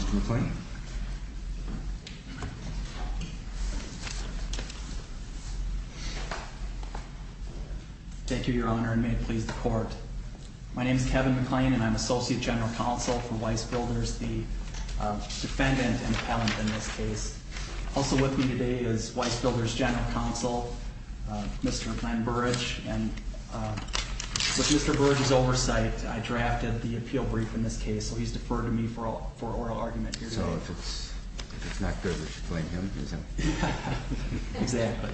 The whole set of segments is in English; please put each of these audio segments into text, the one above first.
Mr. McClain. Thank you, Your Honor, and may it please the Court. My name is Kevin McClain and I'm Associate General Counsel for Weis Builders, the defendant and appellant in this case. Also with me today is Weis Builders General Counsel, Mr. Glenn Burrage. And with Mr. Burrage's oversight, I drafted the appeal brief in this case, so he's deferred to me for oral argument here today. So if it's not good, we should blame him? Exactly.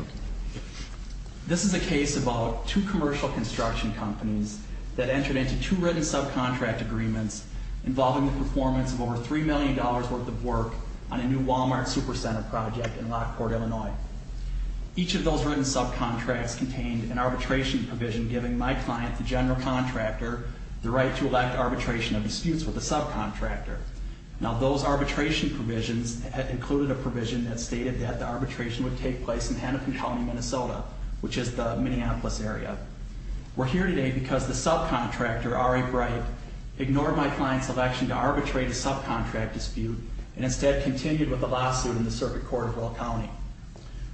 This is a case about two commercial construction companies that entered into two written subcontract agreements involving the performance of over $3 million worth of work on a new Walmart Supercenter project in Lockport, Illinois. Each of those written subcontracts contained an arbitration provision giving my client, the general contractor, the right to elect arbitration of disputes with the subcontractor. Now those arbitration provisions included a provision that stated that the arbitration would take place in Hennepin County, Minnesota, which is the Minneapolis area. We're here today because the subcontractor, R.A. Bright, ignored my client's election to arbitrate a subcontract dispute and instead continued with the lawsuit in the circuit court of Earl County.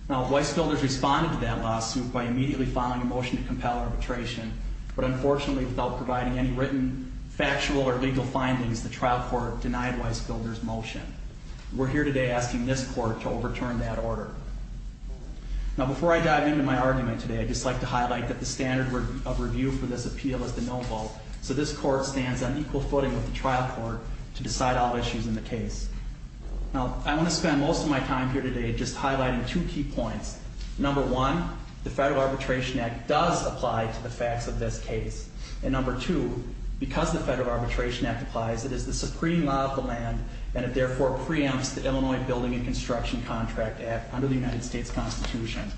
Now Weis Builders responded to that lawsuit by immediately filing a motion to compel arbitration, but unfortunately without providing any written factual or legal findings, the trial court denied Weis Builders' motion. We're here today asking this court to overturn that order. Now before I dive into my argument today, I'd just like to highlight that the standard of review for this appeal is the no vote, so this court stands on equal footing with the trial court to decide all issues in the case. Now I want to spend most of my time here today just highlighting two key points. Number one, the federal arbitration act applies. It is the supreme law of the land, and it therefore preempts the Illinois Building and Construction Contract Act under the United States Constitution.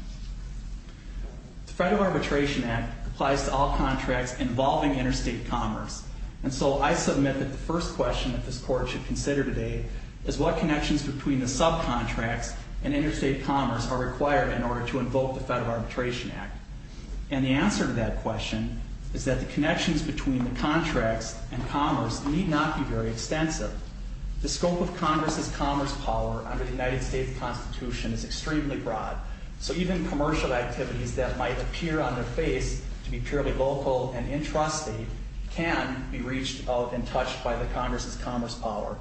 The federal arbitration act applies to all contracts involving interstate commerce, and so I submit that the first question that this court should consider today is what connections between the subcontracts and interstate commerce are required in order to invoke the federal arbitration act. And the answer to that question is that the connections between the contracts and commerce need not be very extensive. The scope of Congress's commerce power under the United States Constitution is extremely broad, so even commercial activities that might appear on their face to be purely local and intrastate can be reached out and touched by the Congress's commerce power.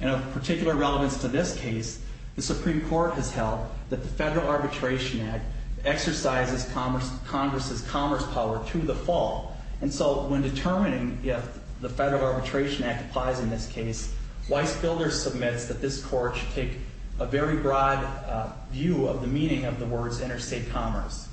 And of particular relevance to this case, the Supreme Court has held that the federal arbitration act exercises Congress's commerce power to the full. And so when determining if the federal arbitration act applies in this case, Weiss Builders submits that this court should take a very broad view of the meaning of the words interstate commerce.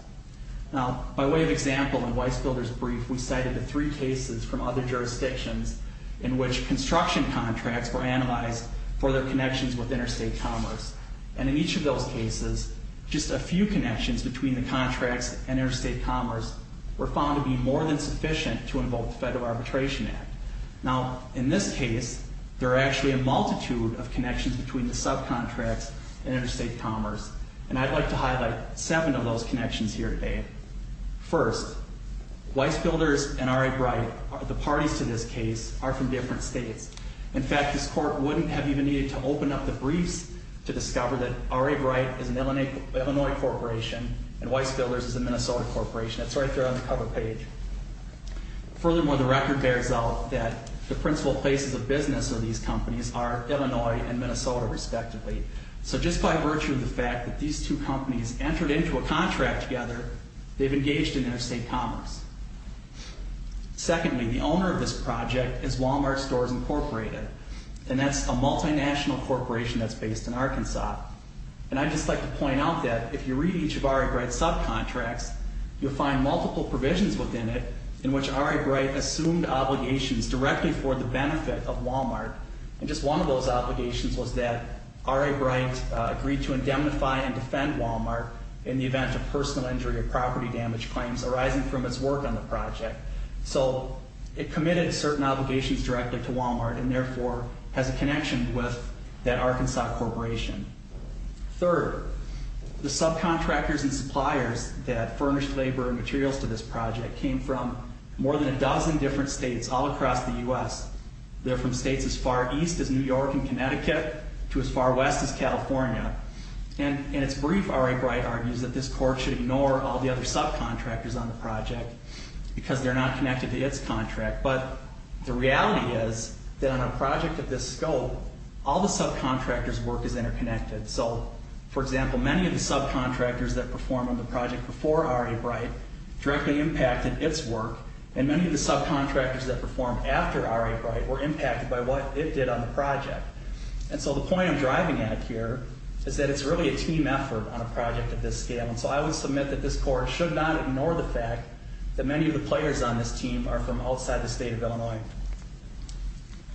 Now by way of example in Weiss Builders' brief, we cited the three cases from other jurisdictions in which construction contracts were analyzed for their connections with interstate commerce. And in each of those cases, just a few connections between the contracts and interstate commerce were found to be more than sufficient to invoke the federal arbitration act. Now in this case, there are actually a multitude of connections between the subcontracts and interstate commerce. And I'd like to highlight seven of those connections here today. First, Weiss Builders and Ari Breit, the parties to this case, are from different states. In fact, this court wouldn't have even needed to open up the briefs to discover that Ari Breit is an Illinois corporation and Weiss Builders is a So just by virtue of the fact that these two companies entered into a contract together, they've engaged in interstate commerce. Secondly, the owner of this project is Wal-Mart Stores Incorporated, and that's a multinational corporation that's based in Arkansas. And I'd just like to point out that if you read each of Ari Breit's subcontracts, you'll find multiple provisions within it in which Ari Breit assumed obligations directly for the benefit of Wal-Mart. And just one of those obligations was that Ari Breit agreed to indemnify and defend Wal-Mart in the event of personal injury or property damage claims arising from its work on the project. So it committed certain obligations directly to Wal-Mart and therefore has a connection with that Arkansas corporation. Third, the subcontractors and suppliers that furnished labor and materials to this project came from more than a dozen different states all across the U.S. They're from states as far east as New York and Connecticut to as far west as California. And in its brief, Ari Breit argues that this court should ignore all the other subcontractors on the project because they're not connected to its contract. But the reality is that on a project of this scope, all the subcontractors' work is interconnected. So, for example, many of the subcontractors that performed on the project before Ari Breit directly impacted its work, and many of the subcontractors that this court should not ignore the fact that many of the players on this team are from outside the state of Illinois.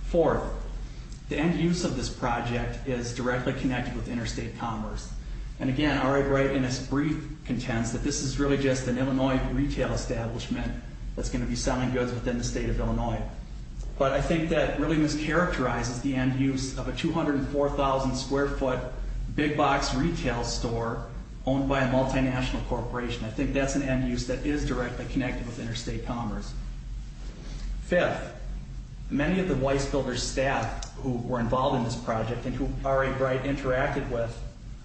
Fourth, the end use of this project is directly connected with interstate commerce. And again, Ari Breit in its brief contends that this is really just an Illinois retail establishment that's going to be selling goods within the state of Illinois. But I think that really just characterizes the end use of a 204,000 square foot big box retail store owned by a multinational corporation. I think that's an end use that is directly connected with interstate commerce. Fifth, many of the Weisbilder staff who were involved in this project and who Ari Breit interacted with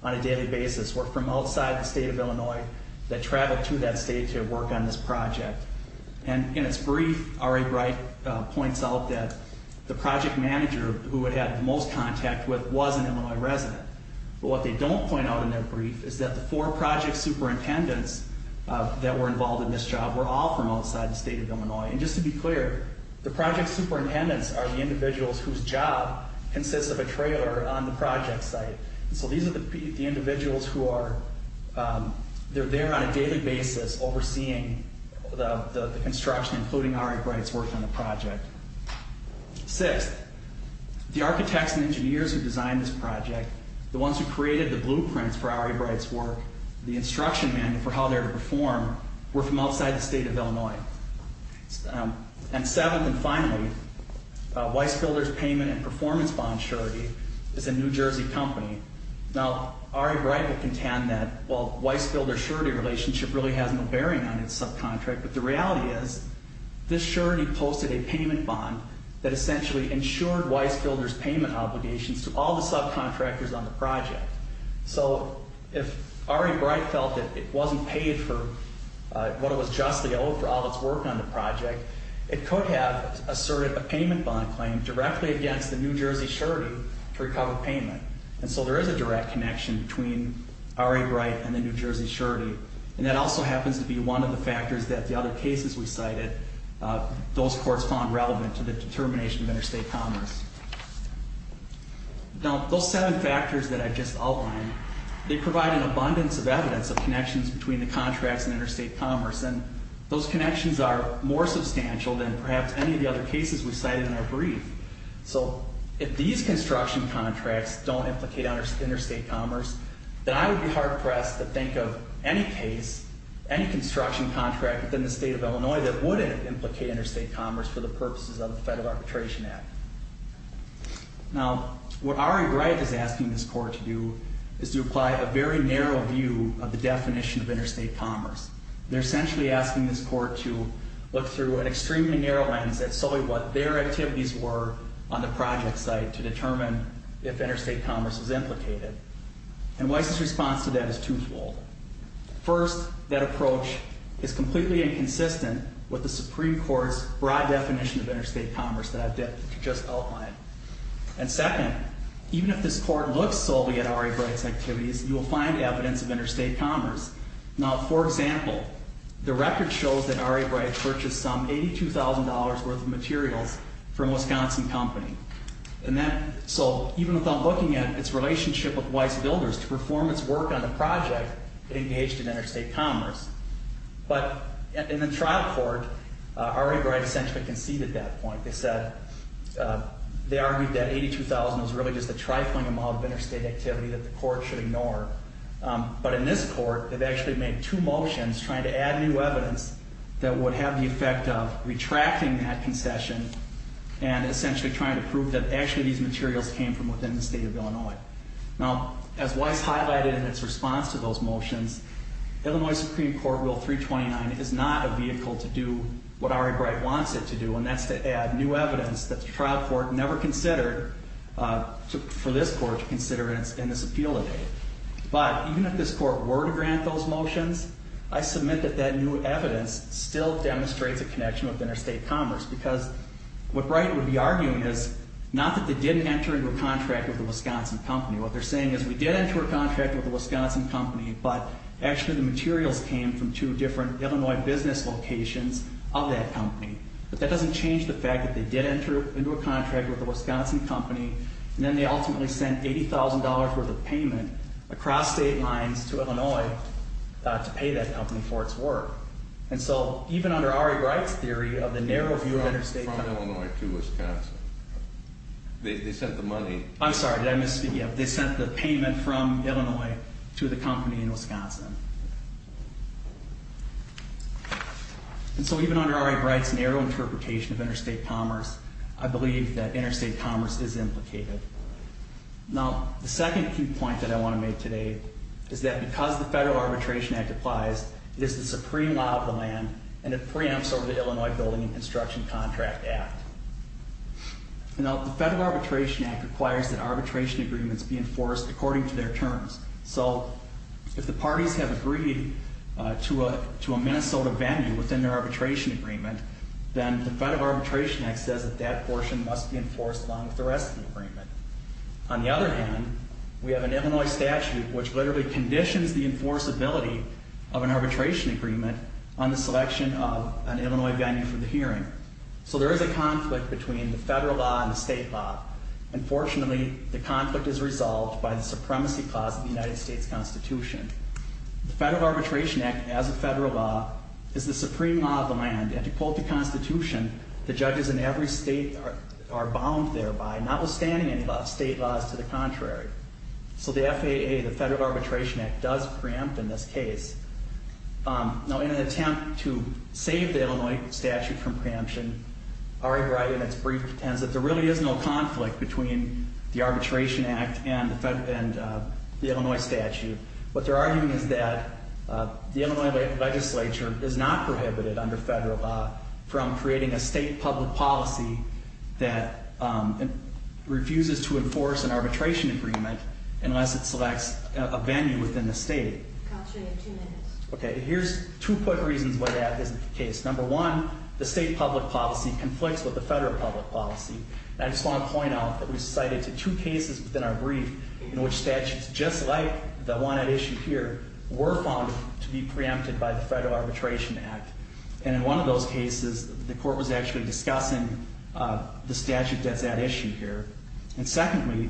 on a daily basis were from outside the state of Illinois that the project manager who it had the most contact with was an Illinois resident. But what they don't point out in their brief is that the four project superintendents that were involved in this job were all from outside the state of Illinois. And just to be clear, the project superintendents are the individuals whose job consists of a trailer on the project site. So these are the architects and engineers who designed this project, the ones who created the blueprints for Ari Breit's work, the instruction manual for how they were to perform were from outside the state of Illinois. And seventh and finally, Weisbilder's payment and performance bond surety is a New Jersey company. Now Ari Breit will contend that while Weisbilder's surety relationship really has no bearing on its subcontract, but the Weisbilder's payment obligations to all the subcontractors on the project. So if Ari Breit felt that it wasn't paid for what it was justly owed for all its work on the project, it could have asserted a payment bond claim directly against the New Jersey surety to recover payment. And so there is a direct connection between Ari Breit and the New Jersey surety. And that also happens to be one of the Now those seven factors that I just outlined, they provide an abundance of evidence of connections between the contracts and interstate commerce. And those connections are more substantial than perhaps any of the other cases we cited in our brief. So if these construction contracts don't implicate interstate commerce, then I would be hard pressed to think of any case, any construction contract within the state of Illinois that wouldn't implicate interstate commerce for the purposes of the Federal Arbitration Act. Now what Ari Breit is asking this court to do is to apply a very narrow view of the definition of interstate commerce. They're essentially asking this court to look through an extremely narrow lens at solely what their activities were on the project site to determine if interstate commerce was implicated. And Weiss's response to that is twofold. First, that approach is completely inconsistent with the Supreme Court's broad definition of interstate commerce that I've just outlined. And second, even if this court looks solely at Ari Breit's activities, you will find evidence of interstate commerce. But in the trial court, Ari Breit essentially conceded that point. They said, they argued that $82,000 was really just a trifling amount of interstate activity that the court should ignore. But in this court, they've actually made two motions trying to add new evidence that would have the effect of retracting that concession and essentially trying to prove that actually these materials came from within the state of Illinois. Now, as Weiss highlighted in its response to those motions, Illinois Supreme Court Rule 329 is not a vehicle to do what Ari Breit wants it to do, and that's to add new evidence that the trial court never considered for this court to consider in this appeal today. But even if this court were to grant those motions, I submit that that new evidence still demonstrates a connection with interstate commerce, because what Breit would be arguing is not that they didn't enter into a contract with a Wisconsin company. What they're saying is we did enter into a contract with a Wisconsin company, but actually the materials came from two different Illinois business locations of that company. But that doesn't change the fact that they did enter into a contract with a Wisconsin company, and then they ultimately sent $80,000 worth of payment across state lines to Illinois to pay that company for its work. And so, even under Ari Breit's theory of the narrow view of interstate commerce. From Illinois to Wisconsin. They sent the money. I'm sorry, did I misspeak? Yeah, they sent the payment from Illinois to the company in Wisconsin. And so, even under Ari Breit's narrow interpretation of interstate commerce, I believe that interstate commerce is implicated. Now, the second key point that I want to make today is that because the Federal Arbitration Act applies, it is the supreme law of the land, and it preempts over the Illinois Building and Construction Contract Act. Now, the Federal Arbitration Act requires that arbitration agreements be enforced according to their terms. So, if the parties have agreed to a Minnesota venue within their arbitration agreement, then the Federal Arbitration Act says that that portion must be enforced along with the rest of the agreement. On the other hand, we have an Illinois statute which literally conditions the enforceability of an arbitration agreement on the selection of an Illinois venue for the hearing. So, there is a conflict between the federal law and the state law. Unfortunately, the conflict is resolved by the supremacy clause of the United States Constitution. The Federal Arbitration Act, as a federal law, is the supreme law of the land. And to quote the Constitution, the judges in every state are bound thereby, notwithstanding any state laws to the contrary. So, the FAA, the Federal Arbitration Act, does preempt in this case. Now, in an attempt to save the Illinois statute from preemption, Ari Wright, in its brief, pretends that there really is no conflict between the Arbitration Act and the Illinois statute. What they're arguing is that the Illinois legislature is not prohibited under federal law from creating a state public policy that refuses to enforce an arbitration agreement unless it selects a venue within the state. Okay, here's two quick reasons why that isn't the case. Number one, the state public policy conflicts with the federal public policy. And I just want to point out that we've cited two cases within our brief in which statutes just like the one at issue here were found to be preempted by the Federal Arbitration Act. And in one of those cases, the court was actually discussing the statute that's at issue here. And secondly,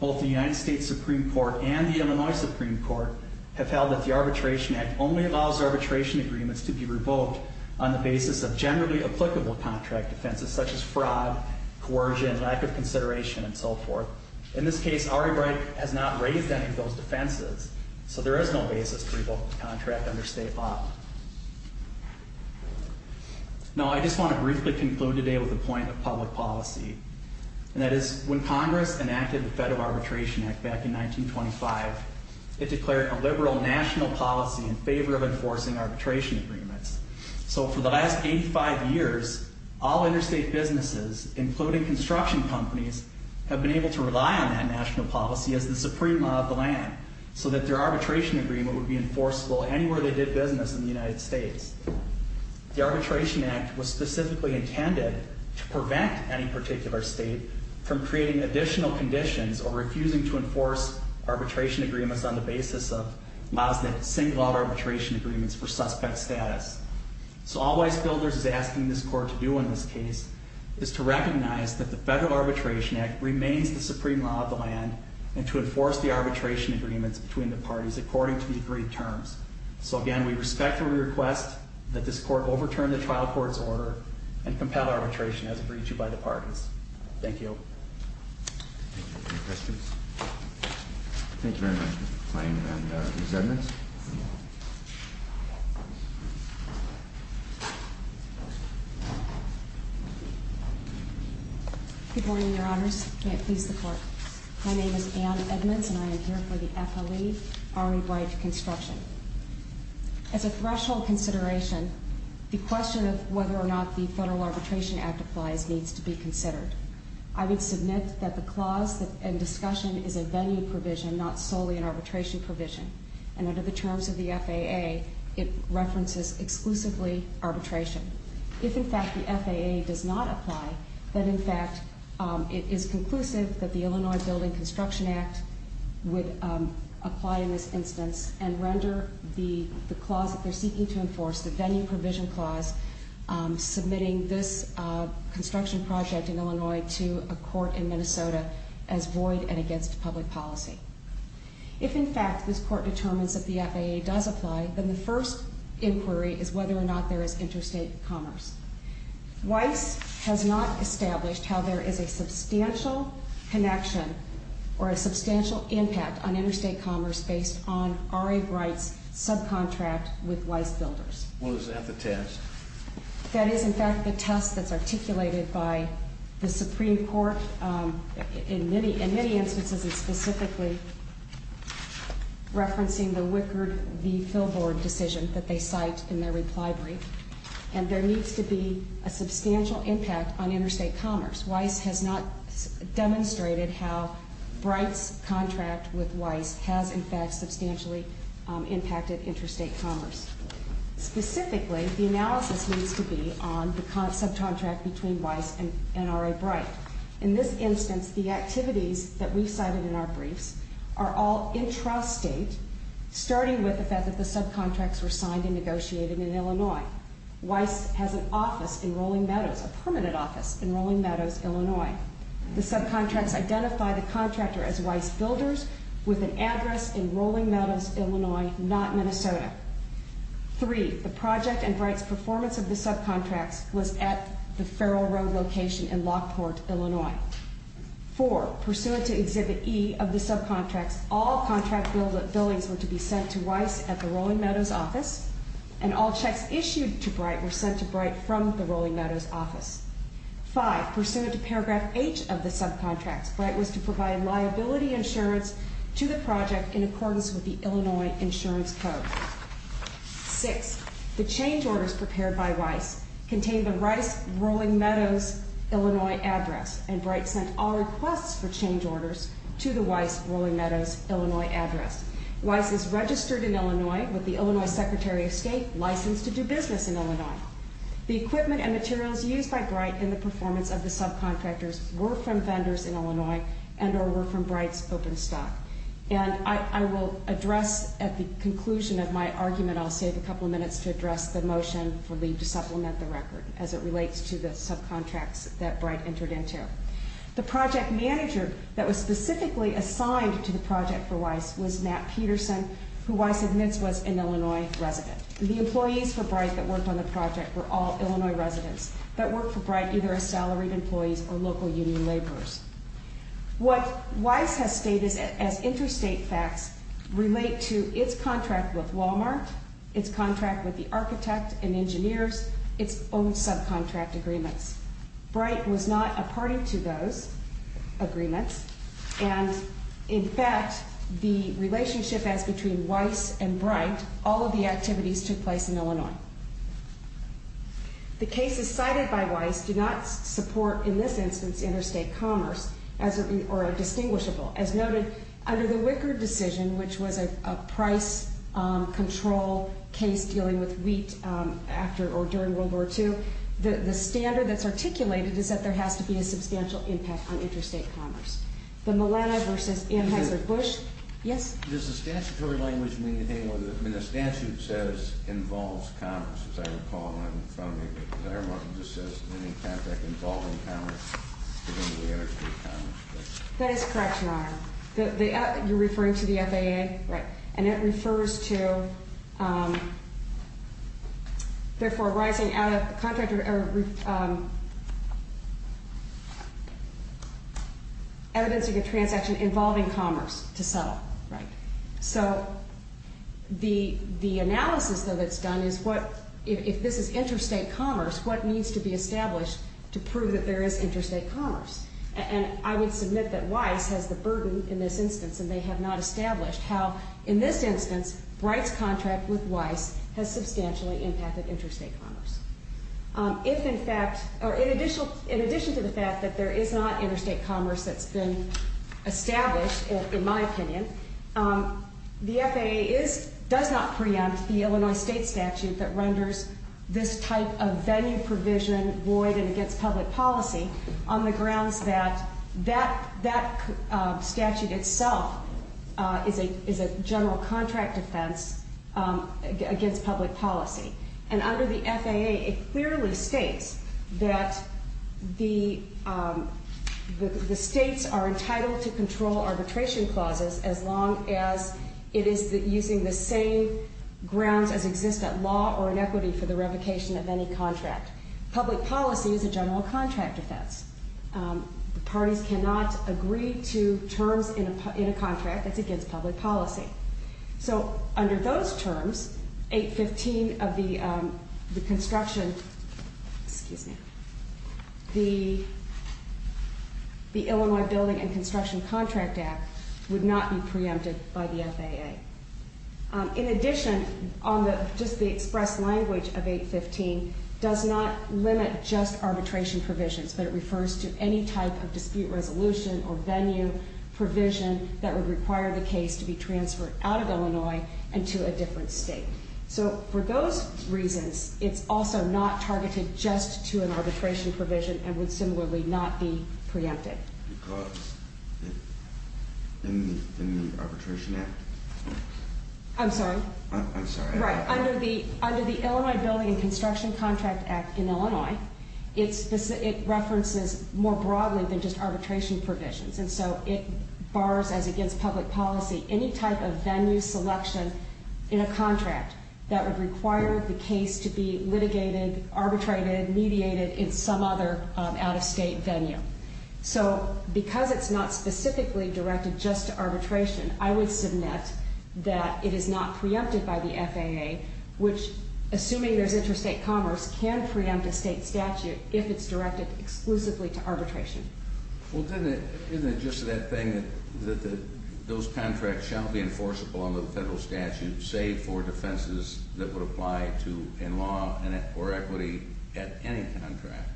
both the United States Supreme Court and the Illinois Supreme Court have held that the Arbitration Act only allows arbitration agreements to be revoked on the basis of generally applicable contract offenses such as fraud, coercion, lack of consideration, and so forth. In this case, Ari Wright has not raised any of those defenses, so there is no basis to revoke the contract under state law. Now, I just want to briefly conclude today with a point of public policy. And that is when Congress enacted the Federal Arbitration Act back in 1925, it declared a liberal national policy in favor of enforcing arbitration agreements. So for the last 85 years, all interstate businesses, including construction companies, have been able to rely on that national policy as the supreme law of the land, so that their arbitration agreement would be enforceable anywhere they did business in the United States. The Arbitration Act was specifically intended to prevent any particular state from creating additional conditions or refusing to enforce arbitration agreements on the basis of laws that single out arbitration agreements for suspect status. So all Weiss-Gilders is asking this court to do in this case is to recognize that the Federal Arbitration Act remains the supreme law of the land and to enforce the arbitration agreements between the parties according to the agreed terms. So again, we respectfully request that this court overturn the trial court's order and compel arbitration as agreed to by the parties. Thank you. Thank you. Any questions? Thank you very much Mr. Klain and Ms. Edmonds. Good morning, your honors. May it please the court. My name is Ann Edmonds and I am here for the FLE, Ari White Construction. As a threshold consideration, the question of whether or not the Federal Arbitration Act applies needs to be considered. I would submit that the clause in discussion is a venue provision, not solely an arbitration provision. And under the terms of the FAA, it references exclusively arbitration. If in fact the FAA does not apply, then in fact it is conclusive that the Illinois Building Construction Act would apply in this instance and render the clause that they're seeking to enforce, the venue provision clause, submitting this construction project in Illinois to a court in Minnesota as void and against public policy. If in fact this court determines that the FAA does apply, then the first inquiry is whether or not there is interstate commerce. Weiss has not established how there is a substantial connection or a substantial impact on interstate commerce based on Ari White's subcontract with Weiss Builders. Well, is that the test? That is in fact the test that's articulated by the Supreme Court in many instances and specifically referencing the Wickard v. Filbord decision that they cite in their reply brief. And there needs to be a substantial impact on interstate commerce. Weiss has not demonstrated how Bright's contract with Weiss has in fact substantially impacted interstate commerce. Specifically, the analysis needs to be on the subcontract between Weiss and Ari Bright. In this instance, the activities that we cited in our briefs are all intrastate, starting with the fact that the subcontracts were signed and negotiated in Illinois. Weiss has an office in Rolling Meadows, a permanent office in Rolling Meadows, Illinois. The subcontracts identify the contractor as Weiss Builders with an address in Rolling Meadows, Illinois, not Minnesota. Three, the project and Bright's performance of the subcontracts was at the Farrell Road location in Lockport, Illinois. Four, pursuant to Exhibit E of the subcontracts, all contract billings were to be sent to Weiss at the Rolling Meadows office and all checks issued to Bright were sent to Bright from the Rolling Meadows office. Five, pursuant to Paragraph H of the subcontracts, Bright was to provide liability insurance to the project in accordance with the Illinois Insurance Code. Six, the change orders prepared by Weiss contained the Weiss Rolling Meadows, Illinois, address and Bright sent all requests for change orders to the Weiss Rolling Meadows, Illinois, address. Weiss is registered in Illinois with the Illinois Secretary of State, licensed to do business in Illinois. The equipment and materials used by Bright in the performance of the subcontractors were from vendors in Illinois and or were from Bright's open stock. And I will address at the conclusion of my argument, I'll save a couple of minutes to address the motion for leave to supplement the record as it relates to the subcontracts that Bright entered into. The project manager that was specifically assigned to the project for Weiss was Matt Peterson, who Weiss admits was an Illinois resident. The employees for Bright that worked on the project were all Illinois residents that worked for Bright, either as salaried employees or local union laborers. What Weiss has stated as interstate facts relate to its contract with Walmart, its contract with the architect and engineers, its own subcontract agreements. Bright was not a party to those agreements. And, in fact, the relationship as between Weiss and Bright, all of the activities took place in Illinois. The cases cited by Weiss do not support, in this instance, interstate commerce or are distinguishable. As noted, under the Wickard decision, which was a price control case dealing with wheat after or during World War II, the standard that's articulated is that there has to be a substantial impact on interstate commerce. The Milano v. Ann Hensler-Bush? Yes? Does the statutory language mean anything? I mean, the statute says involves commerce, as I recall. I don't know if it says any contract involving commerce. That is correct, Your Honor. You're referring to the FAA? Right. And it refers to, therefore, rising out of the contract or evidencing a transaction involving commerce to settle. Right. So the analysis, though, that's done is what, if this is interstate commerce, what needs to be established to prove that there is interstate commerce? And I would submit that Weiss has the burden in this instance, and they have not established how, in this instance, Breit's contract with Weiss has substantially impacted interstate commerce. If, in fact, or in addition to the fact that there is not interstate commerce that's been established, in my opinion, the FAA does not preempt the Illinois state statute that renders this type of venue provision void against public policy on the grounds that that statute itself is a general contract offense against public policy. And under the FAA, it clearly states that the states are entitled to control arbitration clauses as long as it is using the same grounds as exist at law or in equity for the revocation of any contract. Public policy is a general contract offense. The parties cannot agree to terms in a contract that's against public policy. So under those terms, 815 of the construction, excuse me, the Illinois Building and Construction Contract Act would not be preempted by the FAA. In addition, just the express language of 815 does not limit just arbitration provisions, but it refers to any type of dispute resolution or venue provision that would require the case to be transferred out of Illinois and to a different state. So for those reasons, it's also not targeted just to an arbitration provision and would similarly not be preempted. Because in the Arbitration Act? I'm sorry? I'm sorry. Right. Under the Illinois Building and Construction Contract Act in Illinois, it references more broadly than just arbitration provisions. And so it bars as against public policy any type of venue selection in a contract that would require the case to be litigated, arbitrated, mediated in some other out-of-state venue. So because it's not specifically directed just to arbitration, I would submit that it is not preempted by the FAA, which, assuming there's interstate commerce, can preempt a state statute if it's directed exclusively to arbitration. Well, then, isn't it just that thing that those contracts shall be enforceable under the federal statute, save for defenses that would apply to a law or equity at any contract?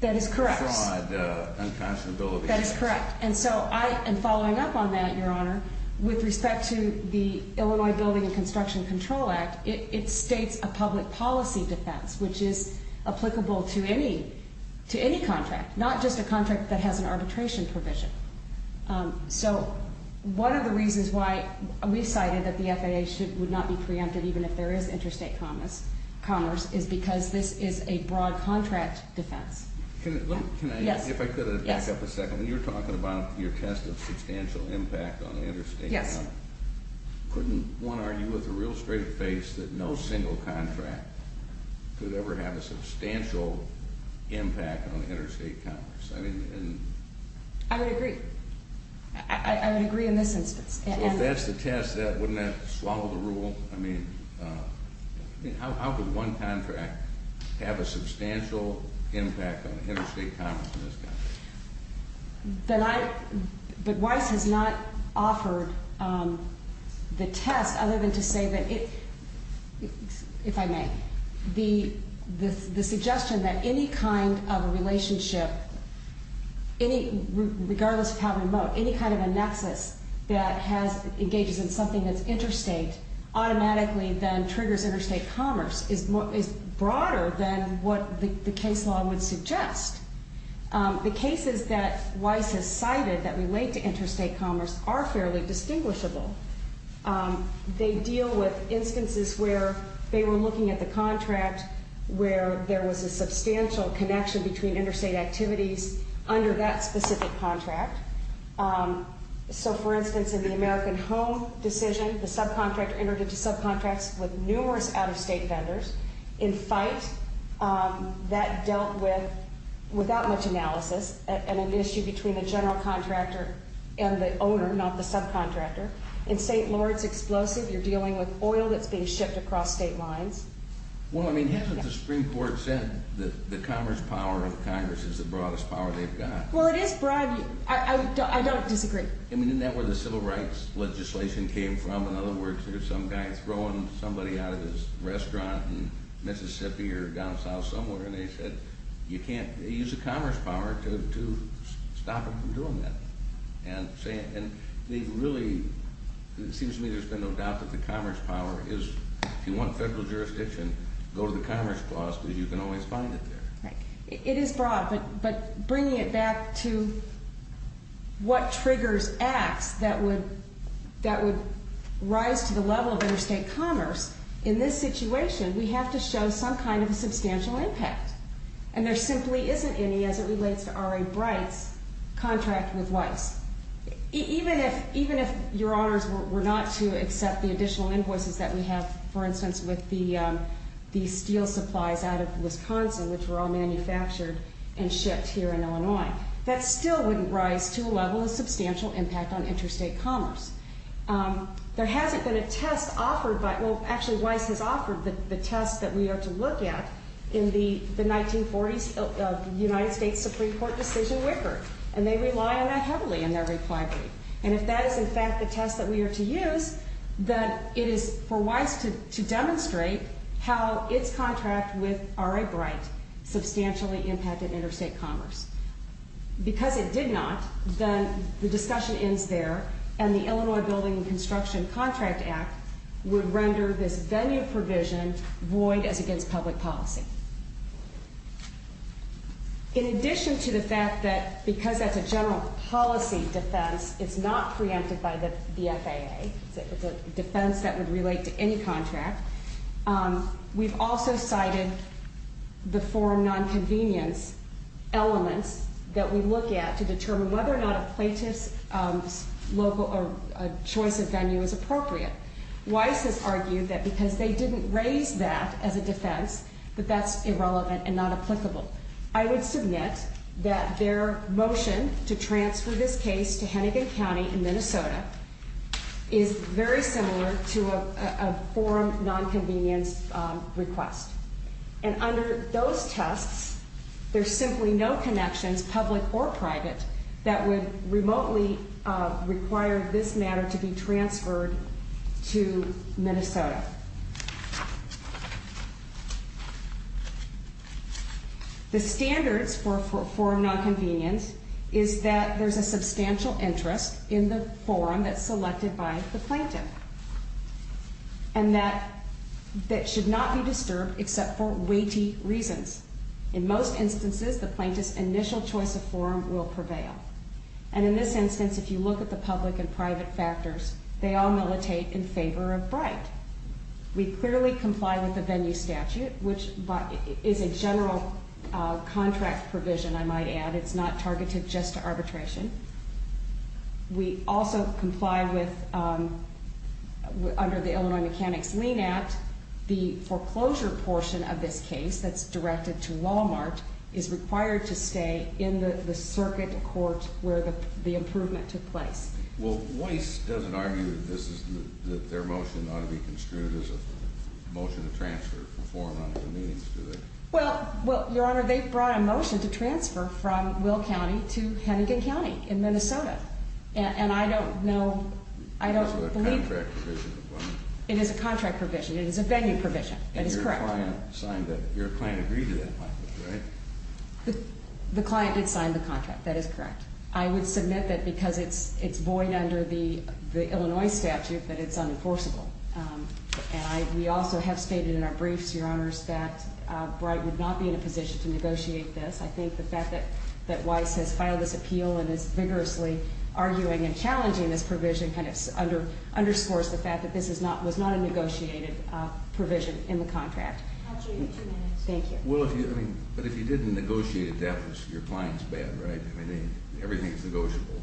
That is correct. Fraud, unconscionability. That is correct. And so I am following up on that, Your Honor. With respect to the Illinois Building and Construction Control Act, it states a public policy defense, which is applicable to any contract, not just a contract that has an arbitration provision. So one of the reasons why we cited that the FAA would not be preempted, even if there is interstate commerce, is because this is a broad contract defense. If I could back up a second. When you were talking about your test of substantial impact on interstate commerce, couldn't one argue with a real straight face that no single contract could ever have a substantial impact on interstate commerce? I would agree. I would agree in this instance. So if that's the test, wouldn't that swallow the rule? I mean, how could one contract have a substantial impact on interstate commerce in this context? But Weiss has not offered the test other than to say that, if I may, the suggestion that any kind of a relationship, regardless of how remote, any kind of a nexus that engages in something that's interstate automatically then triggers interstate commerce is broader than what the case law would suggest. The cases that Weiss has cited that relate to interstate commerce are fairly distinguishable. They deal with instances where they were looking at the contract where there was a substantial connection between interstate activities under that specific contract. So, for instance, in the American Home decision, the subcontractor entered into subcontracts with numerous out-of-state vendors. In FITE, that dealt with, without much analysis, an issue between the general contractor and the owner, not the subcontractor. In St. Lawrence Explosive, you're dealing with oil that's being shipped across state lines. Well, I mean, hasn't the Supreme Court said that the commerce power of Congress is the broadest power they've got? Well, it is broad. I don't disagree. I mean, isn't that where the civil rights legislation came from? In other words, there's some guy throwing somebody out of his restaurant in Mississippi or down south somewhere, and they said, you can't use the commerce power to stop him from doing that. And they really, it seems to me there's been no doubt that the commerce power is, if you want federal jurisdiction, go to the Commerce Clause because you can always find it there. It is broad, but bringing it back to what triggers acts that would rise to the level of interstate commerce, in this situation, we have to show some kind of substantial impact. And there simply isn't any as it relates to R.A. Bright's contract with Weiss. Even if your honors were not to accept the additional invoices that we have, for instance, with the steel supplies out of Wisconsin, which were all manufactured and shipped here in Illinois, that still wouldn't rise to a level of substantial impact on interstate commerce. There hasn't been a test offered by, well, actually Weiss has offered the test that we are to look at in the 1940s of the United States Supreme Court decision, Wicker. And they rely on that heavily in their reply brief. And if that is, in fact, the test that we are to use, then it is for Weiss to demonstrate how its contract with R.A. Bright substantially impacted interstate commerce. Because it did not, then the discussion ends there and the Illinois Building and Construction Contract Act would render this venue provision void as against public policy. In addition to the fact that because that's a general policy defense, it's not preempted by the FAA, it's a defense that would relate to any contract, we've also cited the foreign nonconvenience elements that we look at to determine whether or not a plaintiff's choice of venue is appropriate. Weiss has argued that because they didn't raise that as a defense, that that's irrelevant and not applicable. I would submit that their motion to transfer this case to Hennigan County in Minnesota is very similar to a foreign nonconvenience request. And under those tests, there's simply no connections, public or private, that would remotely require this matter to be transferred to Minnesota. The standards for foreign nonconvenience is that there's a substantial interest in the forum that's selected by the plaintiff. And that should not be disturbed except for weighty reasons. In most instances, the plaintiff's initial choice of forum will prevail. And in this instance, if you look at the public and private factors, they all militate in favor of Bright. We clearly comply with the venue statute, which is a general contract provision, I might add. It's not targeted just to arbitration. We also comply with, under the Illinois Mechanics Lien Act, the foreclosure portion of this case that's directed to Walmart is required to stay in the circuit court where the improvement took place. Well, Weiss doesn't argue that their motion ought to be construed as a motion to transfer from forum nonconvenience, do they? Well, Your Honor, they brought a motion to transfer from Will County to Hennigan County in Minnesota. And I don't know, I don't believe... It is a contract provision. It is a venue provision. That is correct. Your client agreed to that, right? The client did sign the contract. That is correct. I would submit that because it's void under the Illinois statute, that it's unenforceable. And we also have stated in our briefs, Your Honors, that Bright would not be in a position to negotiate this. I think the fact that Weiss has filed this appeal and is vigorously arguing and challenging this provision kind of underscores the fact that this was not a negotiated provision in the contract. But if you didn't negotiate it, that was your client's bad, right? Everything is negotiable.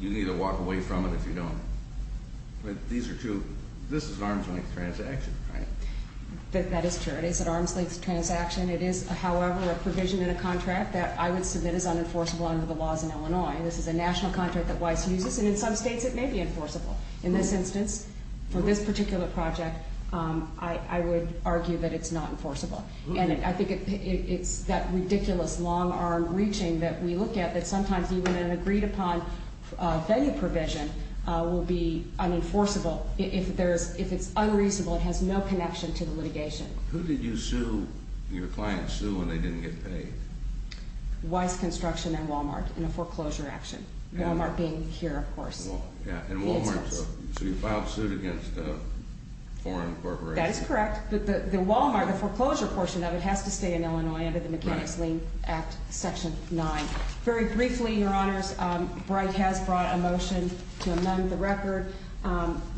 You need to walk away from it if you don't. This is an arm's length transaction, right? That is true. It is an arm's length transaction. It is, however, a provision in a contract that I would submit is unenforceable under the laws in Illinois. This is a national contract that Weiss uses, and in some states it may be enforceable. In this instance, for this particular project, I would argue that it's not enforceable. And I think it's that ridiculous long-arm reaching that we look at that sometimes even an agreed-upon venue provision will be unenforceable. If it's unreasonable, it has no connection to the litigation. Weiss Construction and Walmart in a foreclosure action, Walmart being here, of course. So you filed suit against a foreign corporation? That is correct, but the Walmart foreclosure portion of it has to stay in Illinois under the Mechanics' Lien Act, Section 9. Very briefly, Your Honors, Bright has brought a motion to amend the record.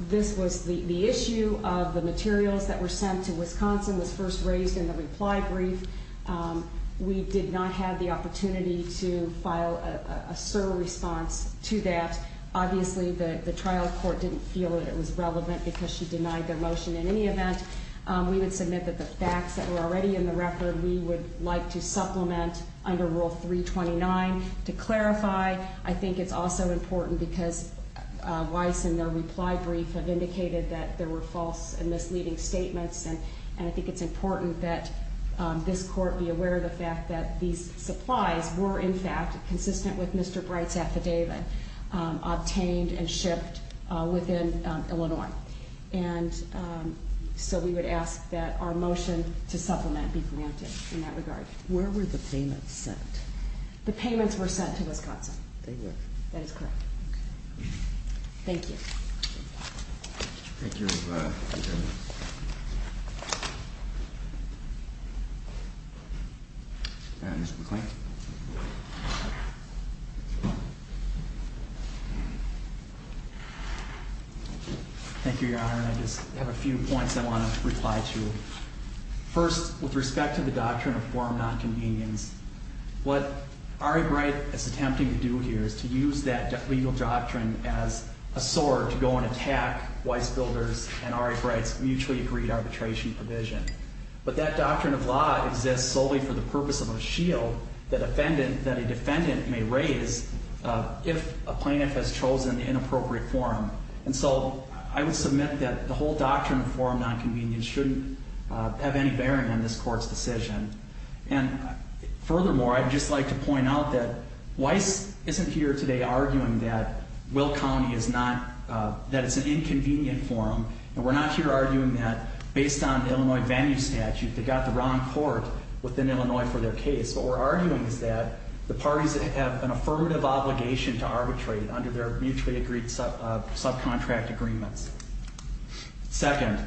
This was the issue of the materials that were sent to Wisconsin was first raised in the reply brief. We did not have the opportunity to file a SIR response to that. Obviously, the trial court didn't feel that it was relevant because she denied their motion. In any event, we would submit that the facts that were already in the record we would like to supplement under Rule 329. To clarify, I think it's also important because Weiss in their reply brief have indicated that there were false and misleading statements, and I think it's important that this court be aware of the fact that these supplies were, in fact, consistent with Mr. Bright's affidavit obtained and shipped within Illinois. So we would ask that our motion to supplement be granted in that regard. Where were the payments sent? The payments were sent to Wisconsin. Thank you. Thank you, Your Honor. Mr. McClain. Thank you, Your Honor. I just have a few points I want to reply to. First, with respect to the doctrine of forum nonconvenience, what Ari Bright is attempting to do here is to use that legal doctrine as a sword to go and attack Weiss Builder's and Ari Bright's mutually agreed arbitration provision. But that doctrine of law exists solely for the purpose of a shield that a defendant may raise if a plaintiff has chosen the inappropriate forum. And so I would submit that the whole doctrine of forum nonconvenience shouldn't have any bearing on this court's decision. And furthermore, I'd just like to point out that Weiss isn't here today arguing that Will County is not that it's an inconvenient forum, and we're not here arguing that based on Illinois venue statute they got the wrong court within Illinois for their case. What we're arguing is that the parties have an affirmative obligation to arbitrate under their mutually agreed subcontract agreements. Second,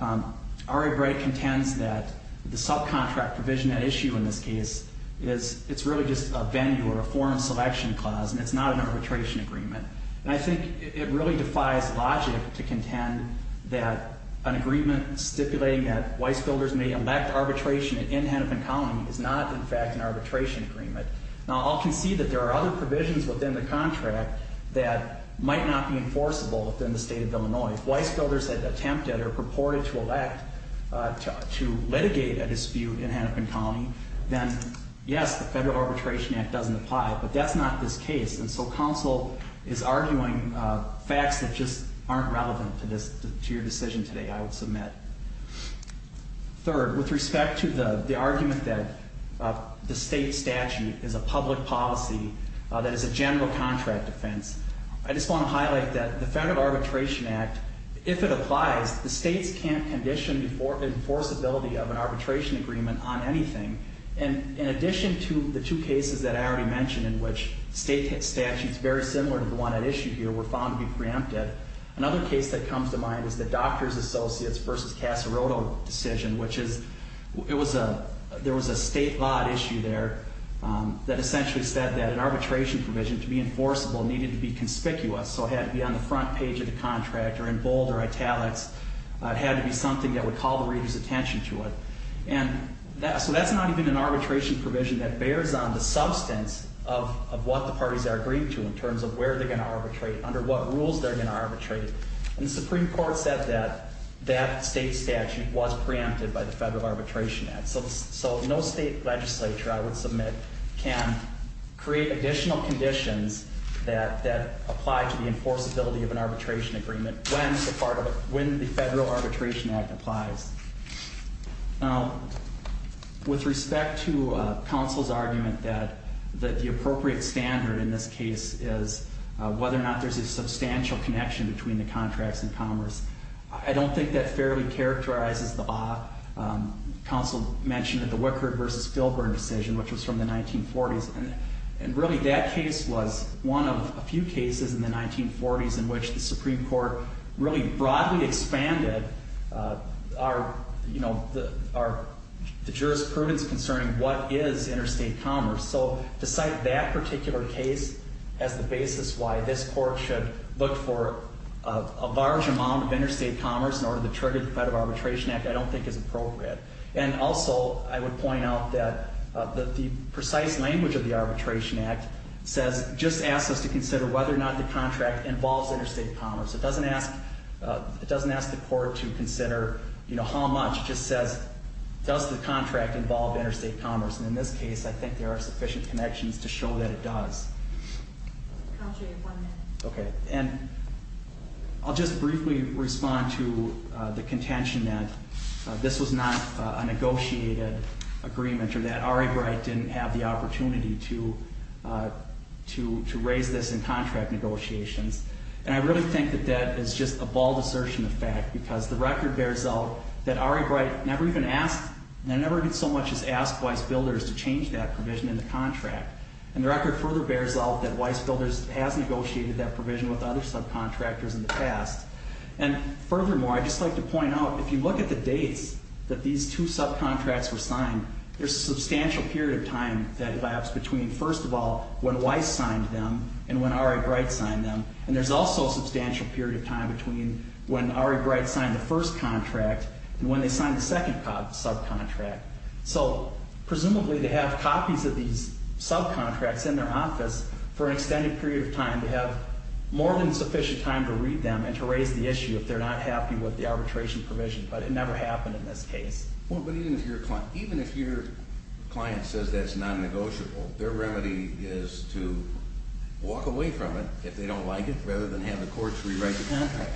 Ari Bright contends that the subcontract provision at issue in this case is it's really just a venue or a forum selection clause, and it's not an arbitration agreement. And I think it really defies logic to contend that an agreement stipulating that Weiss Builders may elect arbitration in Hennepin County is not, in fact, an arbitration agreement. Now, I'll concede that there are other provisions within the contract that might not be enforceable within the state of Illinois. If Weiss Builders had attempted or purported to elect to litigate a dispute in Hennepin County, then, yes, the Federal Arbitration Act doesn't apply, but that's not this case. And so counsel is arguing facts that just aren't relevant to your decision today, I would submit. Third, with respect to the argument that the state statute is a public policy that is a general contract offense, I just want to highlight that the Federal Arbitration Act, if it applies, the states can't condition the enforceability of an arbitration agreement on anything. And in addition to the two cases that I already mentioned in which state statutes very similar to the one at issue here were found to be preempted, another case that comes to mind is the Doctors Associates v. Casaroto decision, which is there was a state law at issue there that essentially said that an arbitration provision, to be enforceable, needed to be conspicuous. So it had to be on the front page of the contract or in bold or italics. It had to be something that would call the reader's attention to it. So that's not even an arbitration provision that bears on the substance of what the parties are agreeing to in terms of where they're going to arbitrate, under what rules they're going to arbitrate. And the Supreme Court said that that state statute was preempted by the Federal Arbitration Act. So no state legislature, I would submit, can create additional conditions that apply to the enforceability of an arbitration agreement when the Federal Arbitration Act applies. Now, with respect to counsel's argument that the appropriate standard in this case is whether or not there's a substantial connection between the contracts and commerce, I don't think that fairly characterizes the law. Counsel mentioned that the Wickard v. Filburn decision, which was from the 1940s, and really that case was one of a few cases in the 1940s in which the Supreme Court really broadly expanded the jurisprudence concerning what is interstate commerce. So to cite that particular case as the basis why this Court should look for a large amount of interstate commerce in order to trigger the Federal Arbitration Act, I don't think is appropriate. And also, I would point out that the precise language of the Arbitration Act says, just asks us to consider whether or not the contract involves interstate commerce. It doesn't ask the Court to consider, you know, how much. It just says, does the contract involve interstate commerce? And in this case, I think there are sufficient connections to show that it does. Counsel, you have one minute. Okay. And I'll just briefly respond to the contention that this was not a negotiated agreement or that Ari Breit didn't have the opportunity to raise this in contract negotiations. And I really think that that is just a bald assertion of fact because the record bears out that Ari Breit never even asked, never did so much as ask Weiss Builders to change that provision in the contract. And the record further bears out that Weiss Builders has negotiated that provision with other subcontractors in the past. And furthermore, I'd just like to point out, if you look at the dates that these two subcontracts were signed, there's a substantial period of time that lapsed between, first of all, when Weiss signed them and when Ari Breit signed them. And there's also a substantial period of time between when Ari Breit signed the first contract and when they signed the second subcontract. So presumably they have copies of these subcontracts in their office for an extended period of time to have more than sufficient time to read them and to raise the issue if they're not happy with the arbitration provision. But it never happened in this case. Well, but even if your client says that's non-negotiable, their remedy is to walk away from it if they don't like it rather than have the courts rewrite the contract.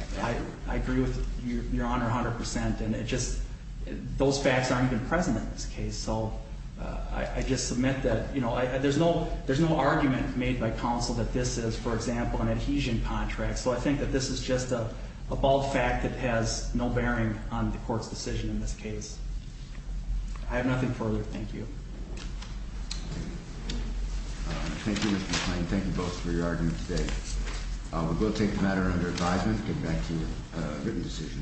I agree with Your Honor 100%. And it just, those facts aren't even present in this case. So I just submit that, you know, there's no argument made by counsel that this is, for example, an adhesion contract. So I think that this is just a bald fact that has no bearing on the court's decision in this case. I have nothing further. Thank you. Thank you, Mr. McClain. Thank you both for your arguments today. We will take the matter under advisement and get back to you with a written decision.